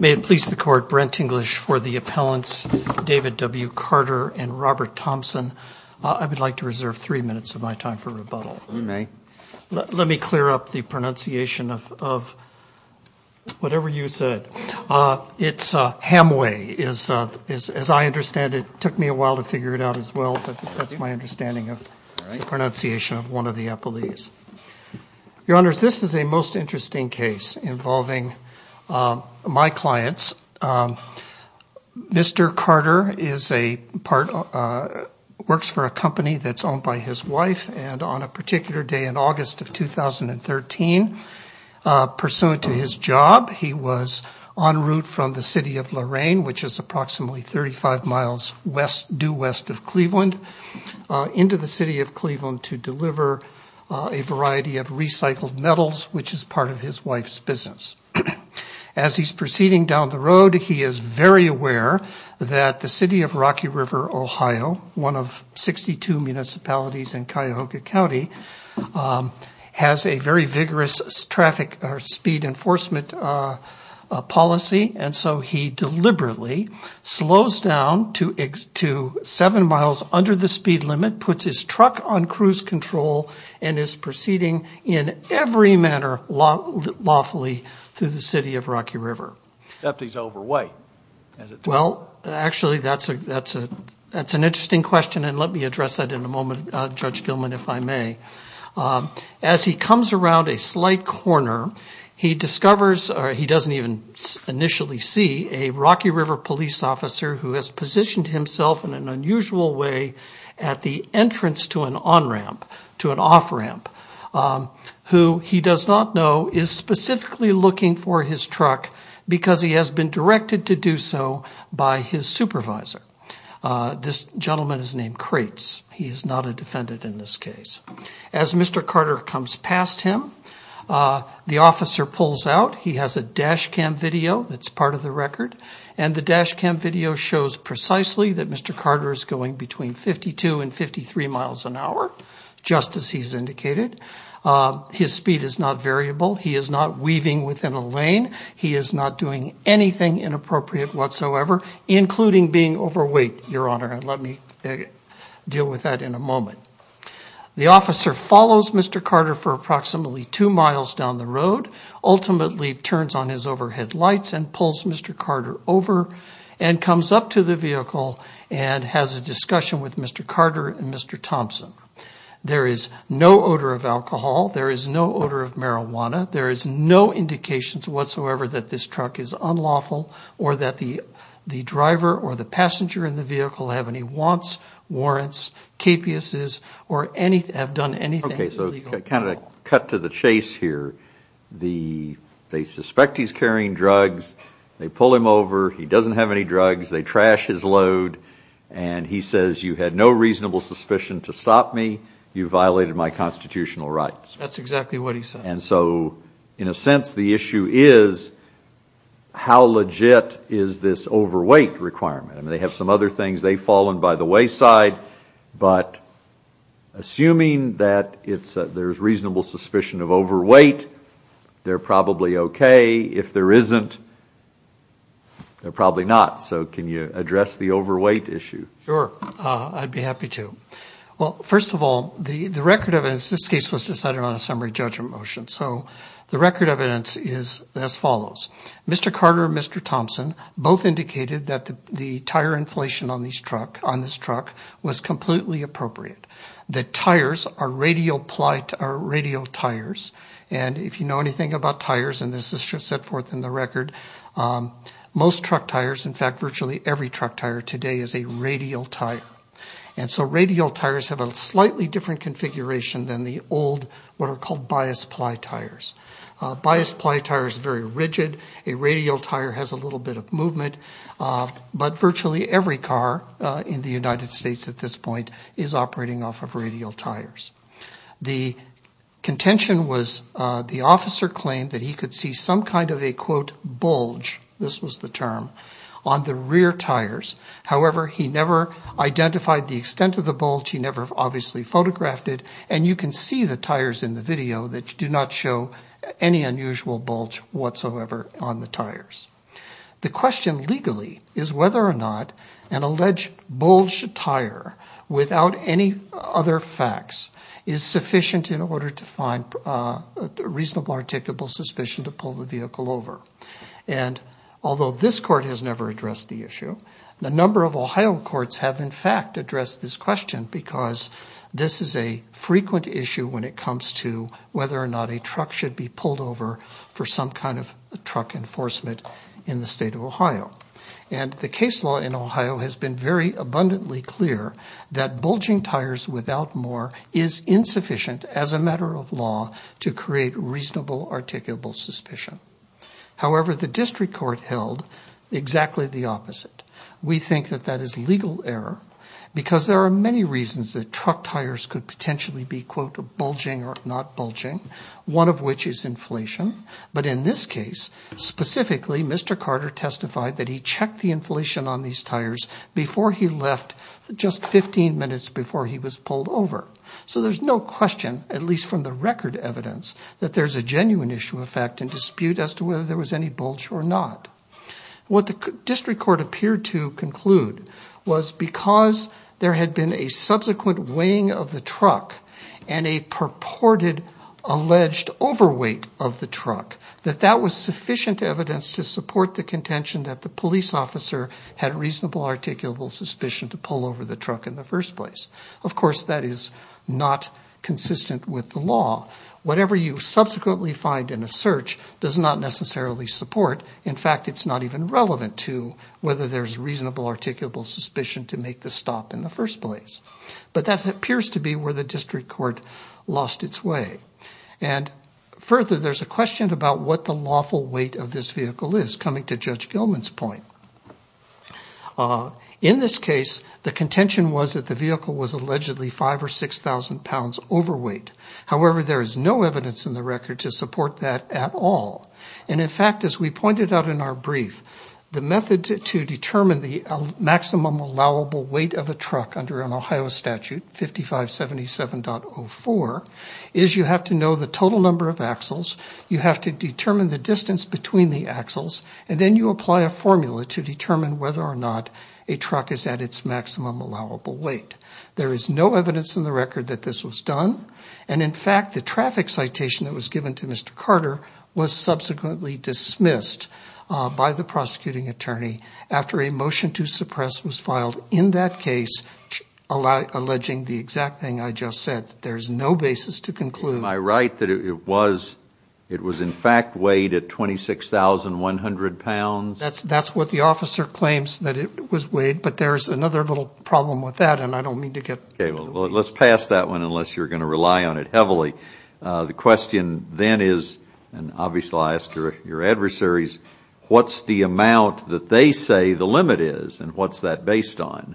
May it please the court, Brent English for the appellants, David W. Carter and Robert Thompson. I would like to reserve three minutes of my time for rebuttal. Let me clear up the pronunciation of whatever you said. It's Hamaoui. As I understand it, it took me a while to figure it out as well, but that's my understanding of the pronunciation of one of the appellees. Your Honors, this is a most interesting case involving my clients. Mr. Carter works for a company that's owned by his wife, and on a particular day in August of 2013, pursuant to his job, he was en route from the city of Lorain, which is approximately 35 miles due west of Cleveland, into the city of Cleveland to deliver a variety of recycled metals, which is part of his wife's business. As he's proceeding down the road, he is very aware that the city of Rocky River, Ohio, one of 62 municipalities in Cuyahoga County, has a very vigorous speed enforcement policy, and so he deliberately slows down to seven miles under the speed limit, puts his truck on cruise control, and is proceeding in every manner lawfully through the city of Rocky River. The deputy's overweight, as it turns out. Well, actually, that's an interesting question, and let me address that in a moment, Judge Gilman, if I may. As he comes around a slight corner, he discovers, or he doesn't even initially see, a Rocky on-ramp to an off-ramp, who he does not know is specifically looking for his truck because he has been directed to do so by his supervisor. This gentleman is named Krates. He is not a defendant in this case. As Mr. Carter comes past him, the officer pulls out. He has a dash cam video that's part of the record, and the dash cam video shows precisely that Mr. Carter is going between 52 and 53 miles an hour, just as he's indicated. His speed is not variable. He is not weaving within a lane. He is not doing anything inappropriate whatsoever, including being overweight, Your Honor, and let me deal with that in a moment. The officer follows Mr. Carter for approximately two miles down the road, ultimately turns on his overhead lights and pulls Mr. Carter over and comes up to the vehicle and has a discussion with Mr. Carter and Mr. Thompson. There is no odor of alcohol. There is no odor of marijuana. There is no indication whatsoever that this truck is unlawful or that the driver or the passenger in the vehicle have any wants, warrants, capuses, or have done anything illegal. Okay, so kind of a cut to the chase here. They suspect he's carrying drugs. They pull him over. He doesn't have any drugs. They trash his load, and he says, you had no reasonable suspicion to stop me. You violated my constitutional rights. That's exactly what he said. And so, in a sense, the issue is, how legit is this overweight requirement? They have some other things. They've fallen by the wayside, but assuming that there's reasonable suspicion of overweight, they're probably okay. If there isn't, they're probably not. So can you address the overweight issue? Sure, I'd be happy to. Well, first of all, the record of this case was decided on a summary judgment motion, so the record of it is as follows. Mr. Carter and Mr. Thompson both indicated that the tire inflation on this truck was completely appropriate, that tires are radial tires. And if you know anything about tires, and this is just set forth in the record, most truck tires, in fact, virtually every truck tire today is a radial tire. And so radial tires have a slightly different configuration than the old, what are called bias ply tires. Bias ply tires are very rigid. A radial tire has a little bit of movement. But virtually every car in the United States at this point is operating off of radial tires. The contention was the officer claimed that he could see some kind of a, quote, bulge, this was the term, on the rear tires. However, he never identified the extent of the bulge. He never obviously photographed it. And you can see the tires in the video that do not show any unusual bulge whatsoever on the tires. The question legally is whether or not an alleged bulge tire without any other facts is sufficient in order to find a reasonable, articulable suspicion to pull the vehicle over. And although this court has never addressed the issue, a number of Ohio courts have in this question because this is a frequent issue when it comes to whether or not a truck should be pulled over for some kind of truck enforcement in the state of Ohio. And the case law in Ohio has been very abundantly clear that bulging tires without more is insufficient as a matter of law to create reasonable, articulable suspicion. However, the district court held exactly the opposite. We think that that is legal error because there are many reasons that truck tires could potentially be, quote, bulging or not bulging, one of which is inflation. But in this case, specifically, Mr. Carter testified that he checked the inflation on these tires before he left, just 15 minutes before he was pulled over. So there's no question, at least from the record evidence, that there's a genuine issue of fact and dispute as to whether there was any bulge or not. What the district court appeared to conclude was because there had been a subsequent weighing of the truck and a purported alleged overweight of the truck, that that was sufficient evidence to support the contention that the police officer had reasonable, articulable suspicion to pull over the truck in the first place. Of course, that is not consistent with the law. Whatever you subsequently find in a search does not necessarily support. In fact, it's not even relevant to whether there's reasonable, articulable suspicion to make the stop in the first place. But that appears to be where the district court lost its way. And further, there's a question about what the lawful weight of this vehicle is, coming to Judge Gilman's point. In this case, the contention was that the vehicle was allegedly 5,000 or 6,000 pounds overweight. However, there is no evidence in the record to support that at all. And in fact, as we pointed out in our brief, the method to determine the maximum allowable weight of a truck under an Ohio statute, 5577.04, is you have to know the total number of axles, you have to determine the distance between the axles, and then you apply a formula to determine whether or not a truck is at its maximum allowable weight. There is no evidence in the record that this was done. And in fact, the traffic citation that was given to Mr. Carter was subsequently dismissed by the prosecuting attorney after a motion to suppress was filed in that case, alleging the exact thing I just said. There's no basis to conclude. Am I right that it was in fact weighed at 26,100 pounds? That's what the officer claims, that it was weighed. But there's another little problem with that, and I don't mean to get into the weeds. Okay, well, let's pass that one unless you're going to rely on it heavily. The question then is, and obviously I'll ask your adversaries, what's the amount that they say the limit is, and what's that based on?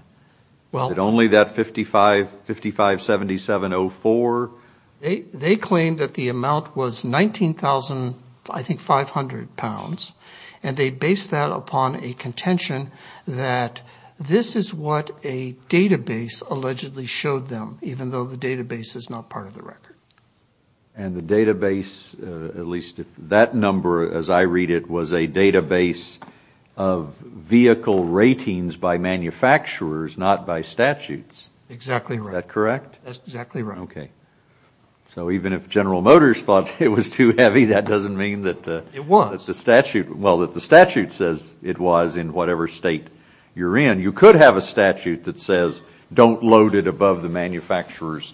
Is it only that 557704? They claim that the amount was 19,500 pounds, and they based that upon a contention that this is what a database allegedly showed them, even though the database is not part of the record. And the database, at least that number as I read it, was a database of vehicle ratings by manufacturers, not by statutes. Exactly right. Is that correct? That's exactly right. Okay. So even if General Motors thought it was too heavy, that doesn't mean that the statute says it was in whatever state you're in. You could have a statute that says don't load it above the manufacturer's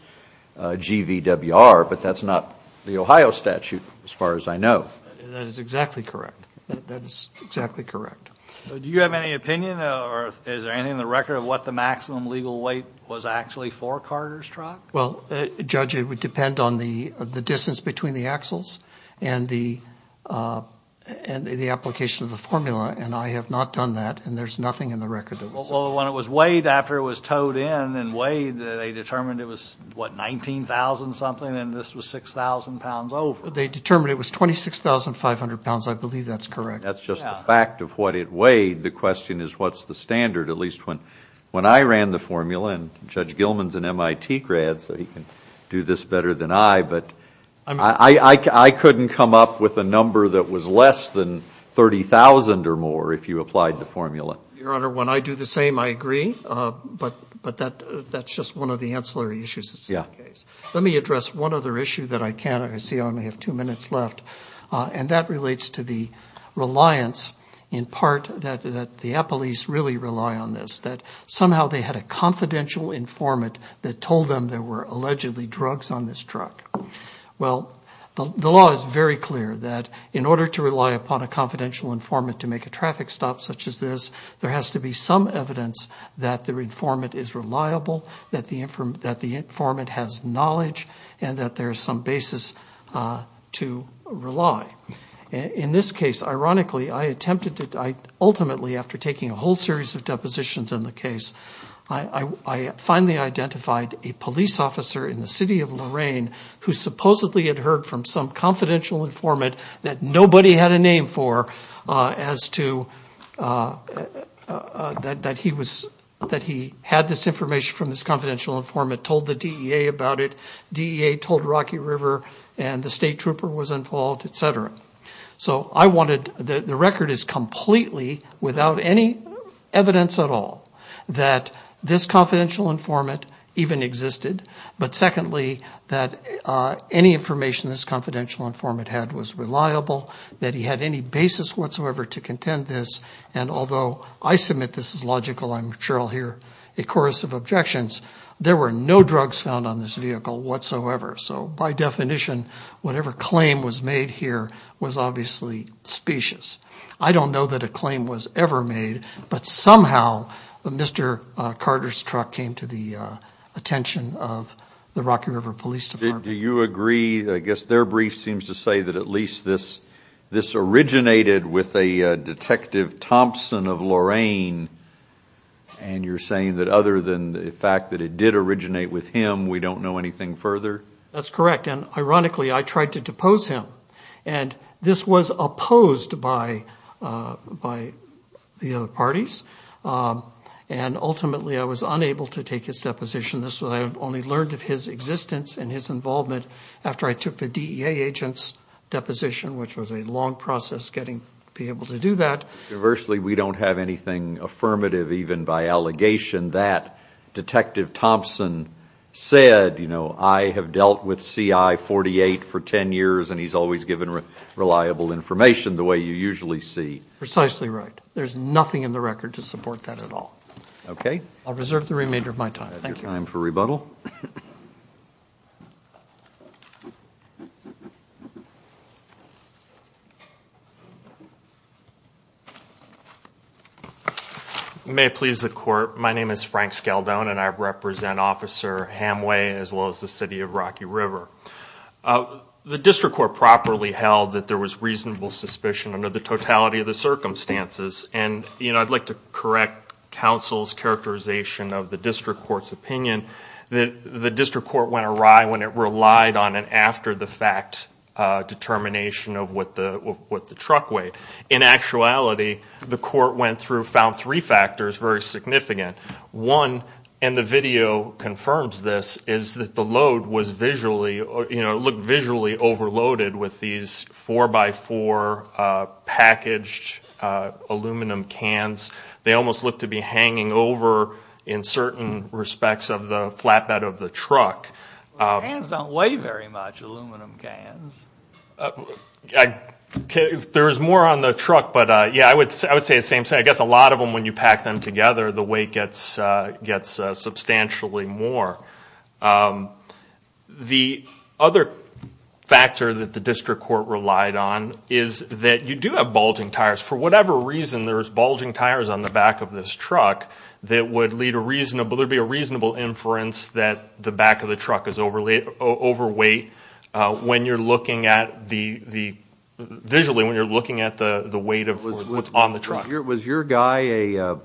GVWR, but that's not the Ohio statute as far as I know. That is exactly correct. That is exactly correct. Do you have any opinion, or is there anything in the record of what the maximum legal weight was actually for Carter's truck? Well, Judge, it would depend on the distance between the axles and the application of the formula, and I have not done that, and there's nothing in the record that would say that. Well, when it was weighed after it was towed in and weighed, they determined it was, what, 19,000-something, and this was 6,000 pounds over? They determined it was 26,500 pounds. I believe that's correct. That's just the fact of what it weighed. The question is what's the standard, at least when I ran the formula and Judge Gilman's an MIT grad, so he can do this better than I, but I couldn't come up with a number that was less than 30,000 or more if you applied the formula. Your Honor, when I do the same, I agree, but that's just one of the ancillary issues. Let me address one other issue that I can't, I see I only have two minutes left, and that relates to the reliance, in part, that the appellees really rely on this, that somehow they had a confidential informant that told them there were allegedly drugs on this truck. Well, the law is very clear that in order to rely upon a confidential informant to make a traffic stop such as this, there has to be some evidence that the informant is reliable, that the informant has knowledge, and that there's some basis to rely. In this case, ironically, I attempted to, ultimately, after taking a whole series of I finally identified a police officer in the city of Lorain who supposedly had heard from some confidential informant that nobody had a name for as to, that he had this information from this confidential informant, told the DEA about it, DEA told Rocky River, and the state trooper was involved, etc. So I wanted, the record is completely without any evidence at all that this confidential informant even existed, but secondly, that any information this confidential informant had was reliable, that he had any basis whatsoever to contend this, and although I submit this is logical, I'm sure I'll hear a chorus of objections, there were no drugs found on this vehicle whatsoever. So by definition, whatever claim was made here was obviously specious. I don't know that a claim was ever made, but somehow Mr. Carter's truck came to the attention of the Rocky River Police Department. Do you agree, I guess their brief seems to say that at least this originated with a Detective Thompson of Lorain, and you're saying that other than the fact that it did originate with him, we don't know anything further? That's correct, and ironically, I tried to depose him, and this was opposed by the other parties, and ultimately I was unable to take his deposition, this was, I only learned of his existence and his involvement after I took the DEA agent's deposition, which was a long process getting to be able to do that. Conversely, we don't have anything affirmative even by allegation that Detective Thompson said, you know, I have dealt with CI-48 for ten years and he's always given reliable information the way you usually see. Precisely right. There's nothing in the record to support that at all. Okay. I'll reserve the remainder of my time. Thank you. Time for rebuttal. May it please the Court, my name is Frank Skeldone and I represent Officer Hamway as well as the City of Rocky River. The District Court properly held that there was reasonable suspicion under the totality of the circumstances, and, you know, I'd like to correct counsel's characterization of the District Court's opinion that the District Court went awry when it relied on an after the fact determination of what the truck weighed. In actuality, the Court went through, found three factors very significant. One, and the video confirms this, is that the load was visually, you know, looked visually overloaded with these four by four packaged aluminum cans. They almost looked to be hanging over in certain respects of the flatbed of the truck. The cans don't weigh very much, aluminum cans. There's more on the truck, but, yeah, I would say the same thing. I guess a lot of them, when you pack them together, the weight gets substantially more. The other factor that the District Court relied on is that you do have bulging tires. For whatever reason, there's bulging tires on the back of this truck that would lead a reasonable, there'd be a reasonable inference that the back of the truck is overweight. When you're looking at the, visually, when you're looking at the weight of what's on the truck. Was your guy a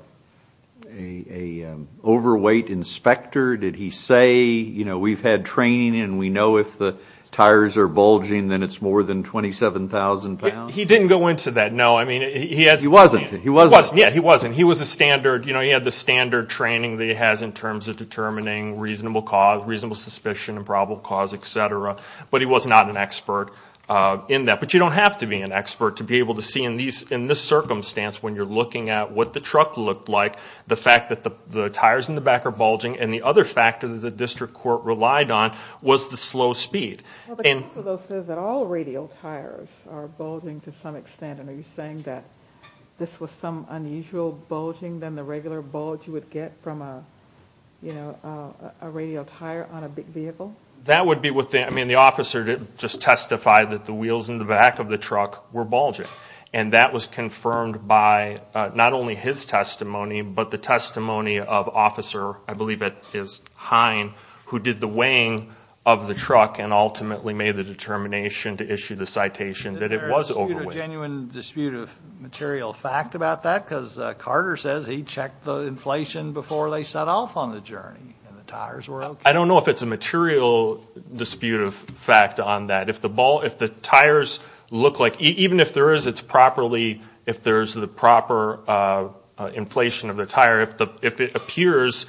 overweight inspector? Did he say, you know, we've had training and we know if the tires are bulging, then it's more than 27,000 pounds? He didn't go into that, no. He wasn't. He wasn't. Yeah, he wasn't. He was a standard, you know, he had the standard training that he has in terms of determining reasonable cause, reasonable suspicion and probable cause, et cetera. But he was not an expert in that. But you don't have to be an expert to be able to see in this circumstance, when you're looking at what the truck looked like, the fact that the tires in the back are bulging. And the other factor that the District Court relied on was the slow speed. Well, the counsel, though, says that all radial tires are bulging to some extent. And are you saying that this was some unusual bulging than the regular bulge you would get from a, you know, a radial tire on a big vehicle? That would be what the, I mean, the officer just testified that the wheels in the back of the truck were bulging. And that was confirmed by not only his testimony, but the testimony of Officer, I believe it is Hine, who did the weighing of the truck and ultimately made the determination to issue the citation that it was overweight. Is there a dispute, a genuine dispute of material fact about that? Because Carter says he checked the inflation before they set off on the journey and the tires were okay. I don't know if it's a material dispute of fact on that. If the ball, if the tires look like, even if there is, it's properly, if there's the proper inflation of the tire, if it appears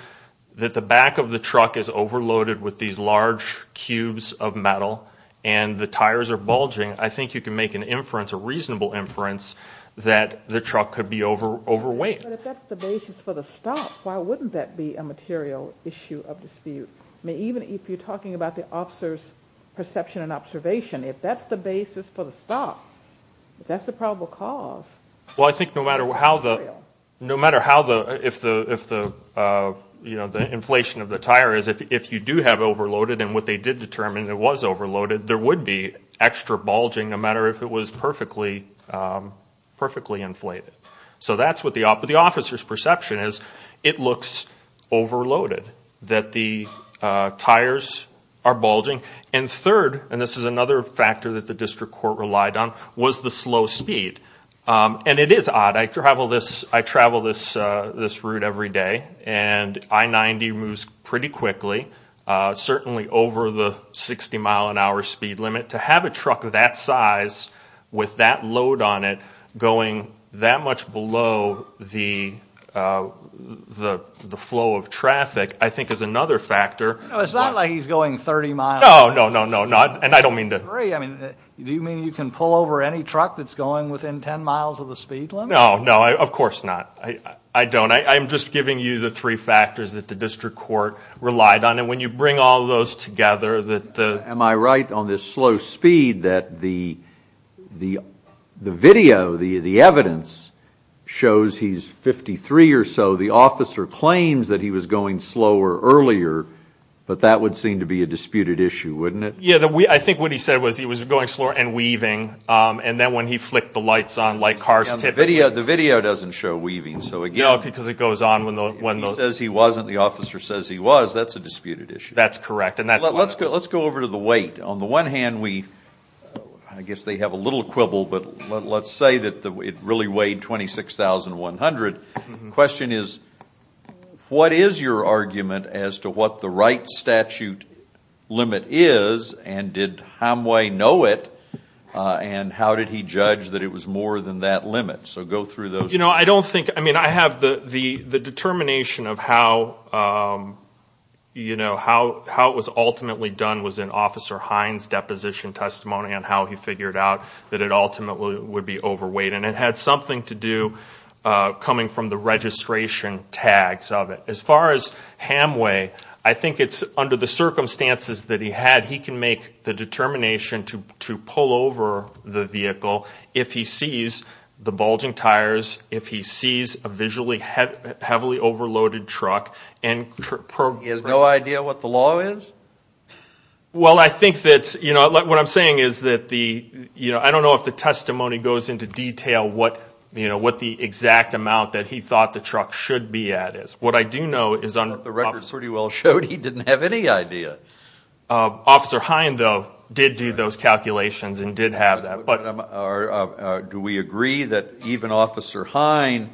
that the back of the truck is overloaded with these large cubes of metal and the tires are bulging, I think you can make an inference, a reasonable inference, that the truck could be overweight. But if that's the basis for the stop, why wouldn't that be a material issue of dispute? I mean, even if you're talking about the officer's perception and observation, if that's the basis for the stop, that's the probable cause. Well, I think no matter how the, no matter how the, if the, you know, the inflation of the tire is, if you do have overloaded and what they did determine, it was overloaded, there would be extra bulging no matter if it was perfectly, perfectly inflated. So that's what the officer's perception is. It looks overloaded, that the tires are bulging. And third, and this is another factor that the district court relied on, was the slow speed. And it is odd. I travel this, I travel this route every day and I-90 moves pretty quickly, certainly over the 60 mile an hour speed limit. To have a truck of that size with that load on it going that much below the flow of traffic I think is another factor. No, it's not like he's going 30 miles an hour. No, no, no, no. And I don't mean to- I agree. I mean, do you mean you can pull over any truck that's going within 10 miles of the speed limit? No, no. Of course not. I don't. I'm just giving you the three factors that the district court relied on. And when you bring all those together- Am I right on this slow speed that the video, the evidence, shows he's 53 or so. The officer claims that he was going slower earlier, but that would seem to be a disputed issue, wouldn't it? Yeah, I think what he said was he was going slower and weaving. And then when he flicked the lights on, like cars typically- The video doesn't show weaving, so again- No, because it goes on when the- He says he wasn't. The officer says he was. That's a disputed issue. That's correct. And that's- Let's go over to the weight. On the one hand, I guess they have a little quibble, but let's say that it really weighed 26,100. The question is, what is your argument as to what the right statute limit is, and did Hamway know it, and how did he judge that it was more than that limit? So go through those- I have the determination of how it was ultimately done was in Officer Hines' deposition testimony on how he figured out that it ultimately would be overweight, and it had something to do coming from the registration tags of it. As far as Hamway, I think it's under the circumstances that he had, he can make the determination to pull over the vehicle if he sees the bulging tires, if he sees a visually heavily overloaded truck, and- He has no idea what the law is? Well, I think that's- What I'm saying is that the- I don't know if the testimony goes into detail what the exact amount that he thought the truck should be at is. What I do know is- But the records pretty well showed he didn't have any idea. Officer Hines, though, did do those calculations and did have that, but- Do we agree that even Officer Hines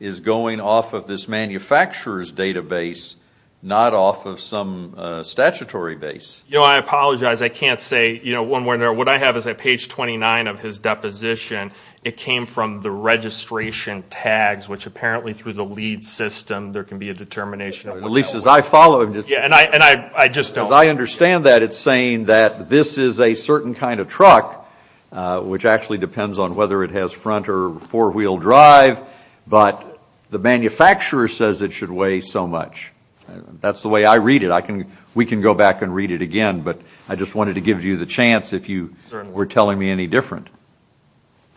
is going off of this manufacturer's database, not off of some statutory base? I apologize, I can't say. What I have is at page 29 of his deposition, it came from the registration tags, which apparently through the LEED system, there can be a determination of- At least as I followed it. And I just don't- As I understand that, it's saying that this is a certain kind of truck, which actually depends on whether it has front or four-wheel drive, but the manufacturer says it should weigh so much. That's the way I read it. We can go back and read it again, but I just wanted to give you the chance if you were telling me any different.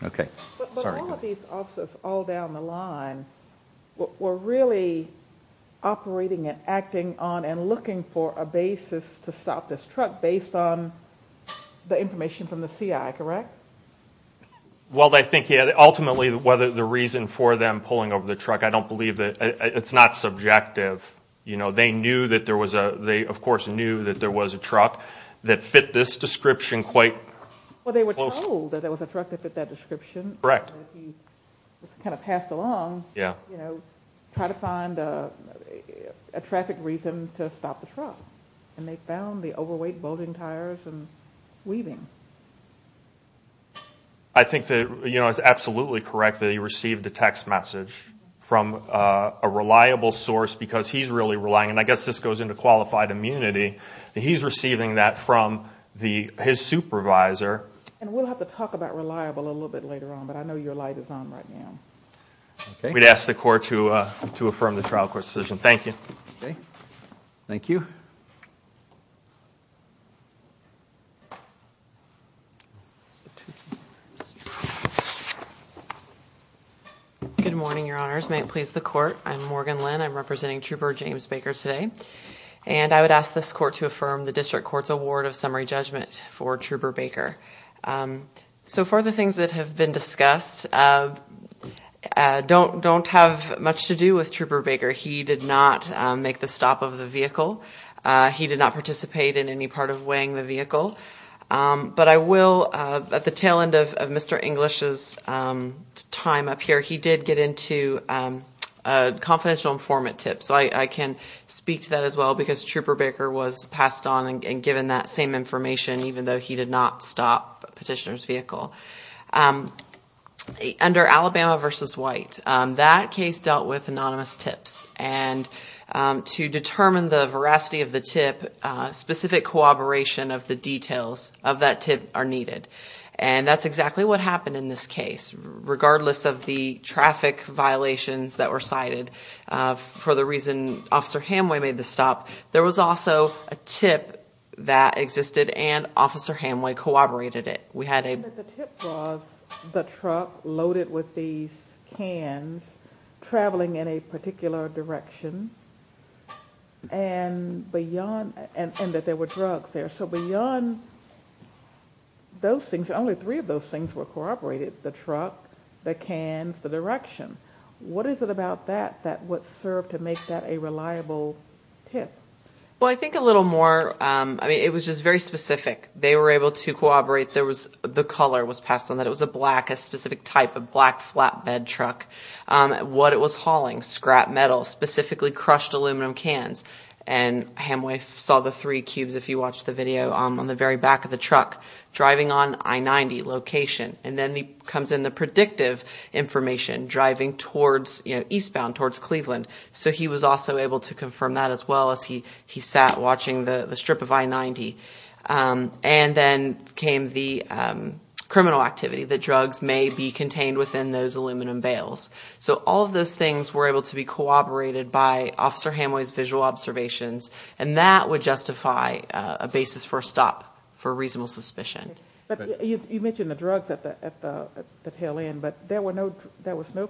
Okay. Sorry. All of these officers all down the line were really operating and acting on and looking for a basis to stop this truck based on the information from the CI, correct? Well, I think, yeah. Ultimately, whether the reason for them pulling over the truck, I don't believe that. It's not subjective. They knew that there was a- They, of course, knew that there was a truck that fit this description quite closely. They knew that there was a truck that fit that description. Correct. He just kind of passed along, you know, try to find a traffic reason to stop the truck. And they found the overweight bolting tires and weaving. I think that, you know, it's absolutely correct that he received a text message from a reliable source, because he's really relying, and I guess this goes into qualified immunity, that he's receiving that from his supervisor. And we'll have to talk about reliable a little bit later on, but I know your light is on right now. Okay. We'd ask the court to affirm the trial court's decision. Thank you. Okay. Thank you. Good morning, Your Honors. May it please the court. I'm Morgan Lynn. I'm representing Trooper James Baker today. And I would ask this court to affirm the district court's award of summary judgment for Trooper Baker. So, for the things that have been discussed, don't have much to do with Trooper Baker. He did not make the stop of the vehicle. He did not participate in any part of weighing the vehicle. But I will, at the tail end of Mr. English's time up here, he did get into a confidential informant tip. So, I can speak to that as well, because Trooper Baker was passed on and given that same information, even though he did not stop Petitioner's vehicle. Under Alabama v. White, that case dealt with anonymous tips. And to determine the veracity of the tip, specific cooperation of the details of that tip are needed. And that's exactly what happened in this case. Regardless of the traffic violations that were cited for the reason Officer Hamway made the stop, there was also a tip that existed, and Officer Hamway corroborated it. We had a... The tip was the truck loaded with these cans, traveling in a particular direction, and that there were drugs there. So, beyond those things, only three of those things were corroborated, the truck, the cans, the direction. What is it about that that would serve to make that a reliable tip? Well, I think a little more... I mean, it was just very specific. They were able to corroborate. There was... The color was passed on that it was a black, a specific type of black flatbed truck. What it was hauling, scrap metal, specifically crushed aluminum cans. And Hamway saw the three cubes, if you watched the video, on the very back of the truck, driving on I-90 location. And then comes in the predictive information, driving eastbound towards Cleveland. So, he was also able to confirm that as well, as he sat watching the strip of I-90. And then came the criminal activity, that drugs may be contained within those aluminum bales. So, all of those things were able to be corroborated by Officer Hamway's visual observations, and that would justify a basis for a stop for reasonable suspicion. You mentioned the drugs at the tail end, but there was no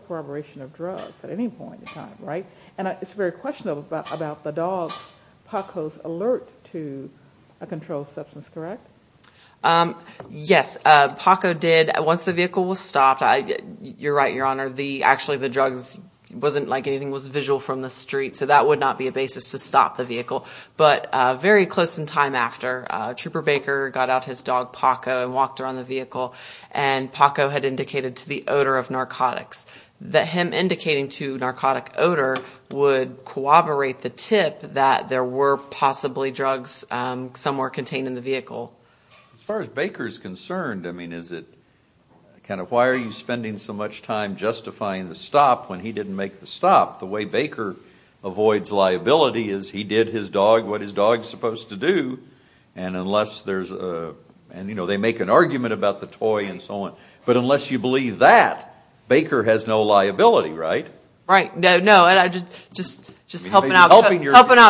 corroboration of drugs at any point in time, right? And it's very questionable about the dog Paco's alert to a controlled substance, correct? Yes. Paco did, once the vehicle was stopped. You're right, Your Honor. Actually, the drugs wasn't like anything was visual from the street, so that would not be a basis to stop the vehicle. But very close in time after, Trooper Baker got out his dog Paco and walked around the vehicle, and Paco had indicated to the odor of narcotics, that him indicating to narcotic odor would corroborate the tip that there were possibly drugs somewhere contained in the vehicle. As far as Baker's concerned, I mean, is it kind of, why are you spending so much time justifying the stop when he didn't make the stop? The way Baker avoids liability is he did his dog what his dog's supposed to do, and unless there's a, and you know, they make an argument about the toy and so on. But unless you believe that, Baker has no liability, right? Right. No, no. I'm just helping out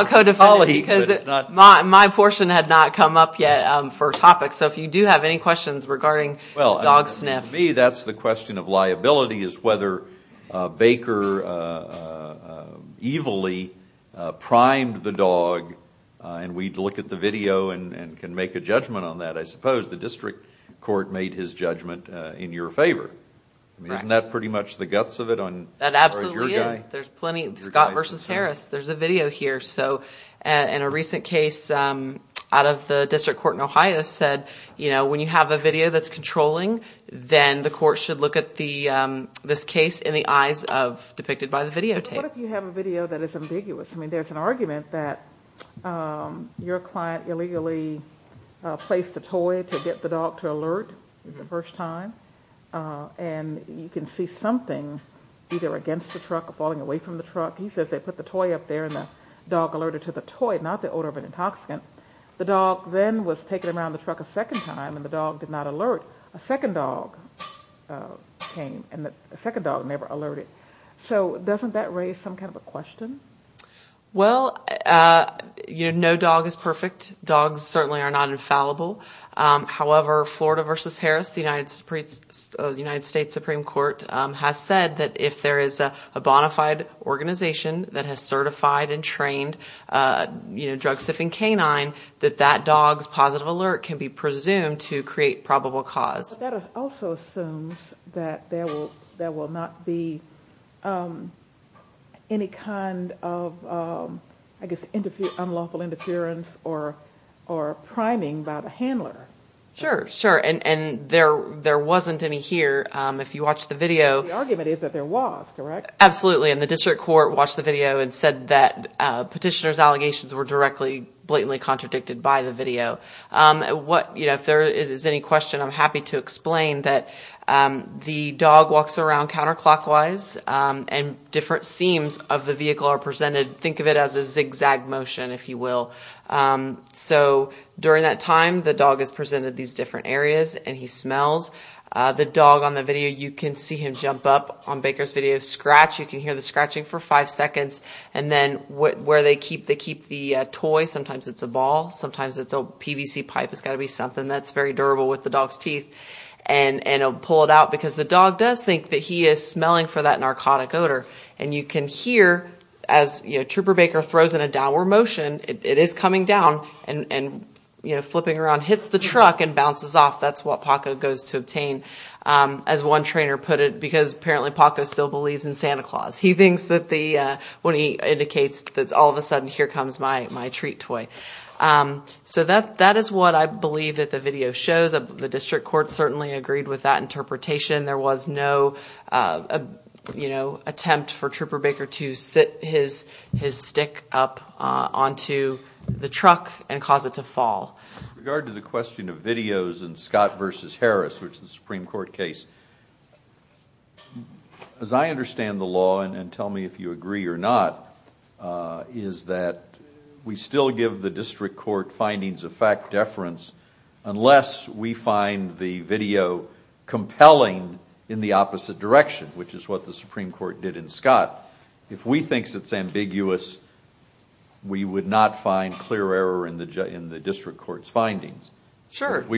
co-defendants. My portion had not come up yet for topic, so if you do have any questions regarding dog sniff. To me, that's the question of liability, is whether Baker evilly primed the dog, and we'd look at the video and can make a judgment on that. I suppose the district court made his judgment in your favor. Isn't that pretty much the guts of it? That absolutely is. As far as your guy? There's plenty. Scott versus Harris. There's a video here. So, in a recent case, out of the district court in Ohio said, you know, when you have a video that's controlling, then the court should look at this case in the eyes of, depicted by the videotape. But what if you have a video that is ambiguous? I mean, there's an argument that your client illegally placed a toy to get the dog to alert the first time, and you can see something either against the truck or falling away from the truck. He says they put the toy up there and the dog alerted to the toy, not the odor of an intoxicant. The dog then was taken around the truck a second time, and the dog did not alert. A second dog came, and the second dog never alerted. So, doesn't that raise some kind of a question? Well, you know, no dog is perfect. Dogs certainly are not infallible. However, Florida versus Harris, the United States Supreme Court has said that if there is a bona fide organization that has certified and trained, you know, drug-suffering canine, that that dog's positive alert can be presumed to create probable cause. But that also assumes that there will not be any kind of, I guess, unlawful interference or priming by the handler. Sure, sure. And there wasn't any here. The argument is that there was, correct? Absolutely. And the district court watched the video and said that petitioner's allegations were directly, blatantly contradicted by the video. If there is any question, I'm happy to explain that the dog walks around counterclockwise, and different seams of the vehicle are presented. Think of it as a zigzag motion, if you will. So, during that time, the dog is presented these different areas, and he smells. The dog on the video, you can see him jump up. On Baker's video, scratch. You can hear the scratching for five seconds. And then, where they keep the toy, sometimes it's a ball, sometimes it's a PVC pipe. It's got to be something that's very durable with the dog's teeth. And he'll pull it out, because the dog does think that he is smelling for that narcotic odor. And you can hear, as Trooper Baker throws in a downward motion, it is coming down, and flipping around, hits the truck, and bounces off. That's what Paco goes to obtain. As one trainer put it, because, apparently, Paco still believes in Santa Claus. He thinks that when he indicates, all of a sudden, here comes my treat toy. So, that is what I believe that the video shows. The district court certainly agreed with that interpretation. There was no attempt for Trooper Baker to sit his stick up onto the truck and cause it to fall. With regard to the question of videos in Scott v. Harris, which is a Supreme Court case, as I understand the law, and tell me if you agree or not, is that we still give the district court findings of fact deference, unless we find the video compelling in the opposite direction, If we think it is ambiguous, we would not find clear error in the district court's findings. If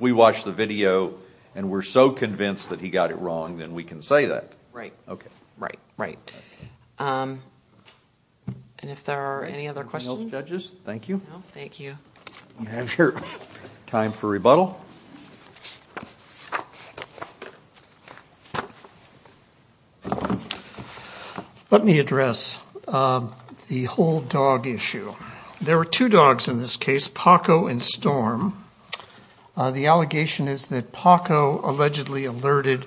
we watch the video, and we are so convinced that he got it wrong, then we can say that. Right. Right. Right. And if there are any other questions? No, judges. Thank you. Thank you. Time for rebuttal. Let me address the whole dog issue. There were two dogs in this case, Paco and Storm. The allegation is that Paco allegedly alerted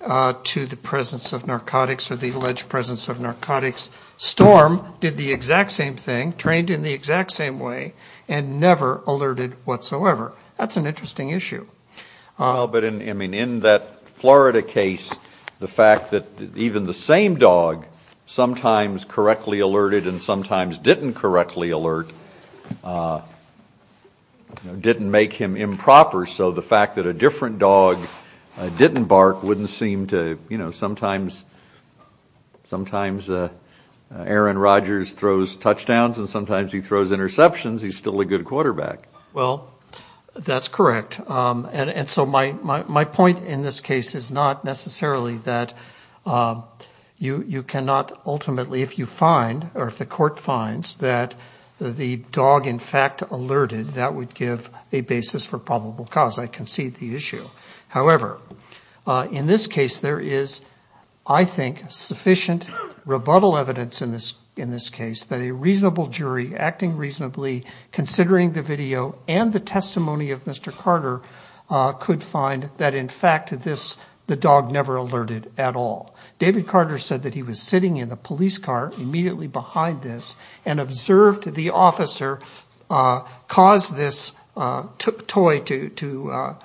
to the presence of narcotics, or the alleged presence of narcotics. Storm did the exact same thing, trained in the exact same way, and never alerted whatsoever. That's an interesting issue. In that Florida case, the fact that even the same dog sometimes correctly alerted and sometimes didn't correctly alert didn't make him improper, so the fact that a different dog didn't bark wouldn't seem to, you know, sometimes Aaron Rogers throws touchdowns and sometimes he throws interceptions, he's still a good quarterback. Well, that's correct. And so my point in this case is not necessarily that you cannot ultimately, if you find or if the court finds that the dog in fact alerted, that would give a basis for probable cause. I concede the issue. However, in this case there is, I think, sufficient rebuttal evidence in this case that a reasonable jury acting reasonably, considering the video and the testimony of Mr. Carter, could find that in fact the dog never alerted at all. David Carter said that he was sitting in a police car immediately behind this and observed the officer cause this toy to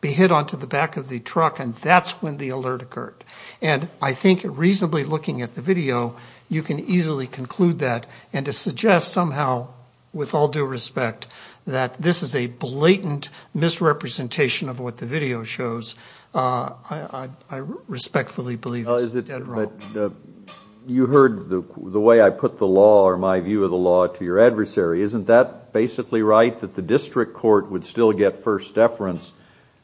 be hit onto the back of the truck and that's when the alert occurred. And I think reasonably looking at the video you can easily conclude that and to suggest somehow, with all due respect, that this is a blatant misrepresentation of what the video shows, I respectfully believe is a dead wrong. You heard the way I put the law or my view of the law to your adversary. Isn't that basically right, that the district court would still get first deference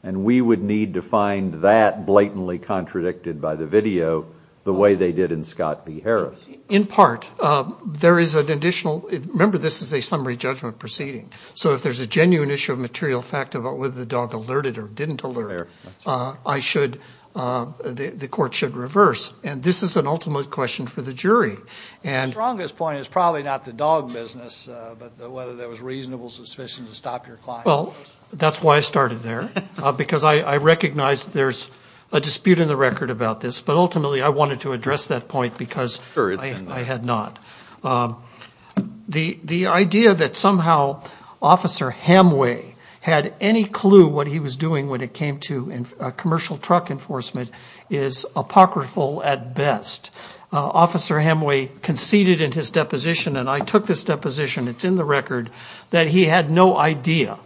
and we would need to find that blatantly contradicted by the video the way they did in Scott v. Harris? In part. There is an additional, remember this is a summary judgment proceeding, so if there's a genuine issue of material fact about whether the dog alerted or didn't alert, I should, the court should reverse. And this is an ultimate question for the jury. The strongest point is probably not the dog business, but whether there was reasonable suspicion to stop your client. Well, that's why I started there, because I recognize there's a dispute in the record about this, but ultimately I wanted to address that point because I had not. The idea that somehow Officer Hamway had any clue what he was doing when it came to commercial truck enforcement is apocryphal at best. Officer Hamway conceded in his deposition, and I took this deposition, it's in the record, that he had no idea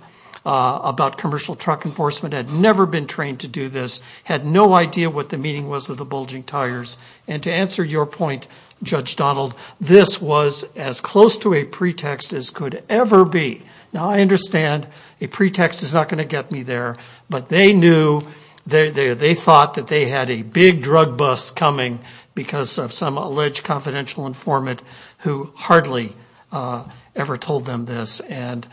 about commercial truck enforcement, had never been trained to do this, had no idea what the meaning was of the bulging tires, and to answer your point, Judge Donald, this was as close to a pretext as could ever be. Now, I understand a pretext is not going to get me there, but they knew, they thought that they had a big drug bust coming because of some alleged confidential informant who hardly ever told them this, and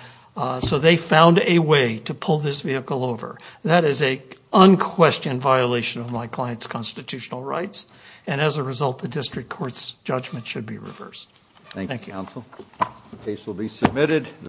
so they found a way to pull this vehicle over. That is an unquestioned violation of my client's constitutional rights, and as a result, the district court's judgment should be reversed. Thank you. Thank you, counsel. The case will be submitted.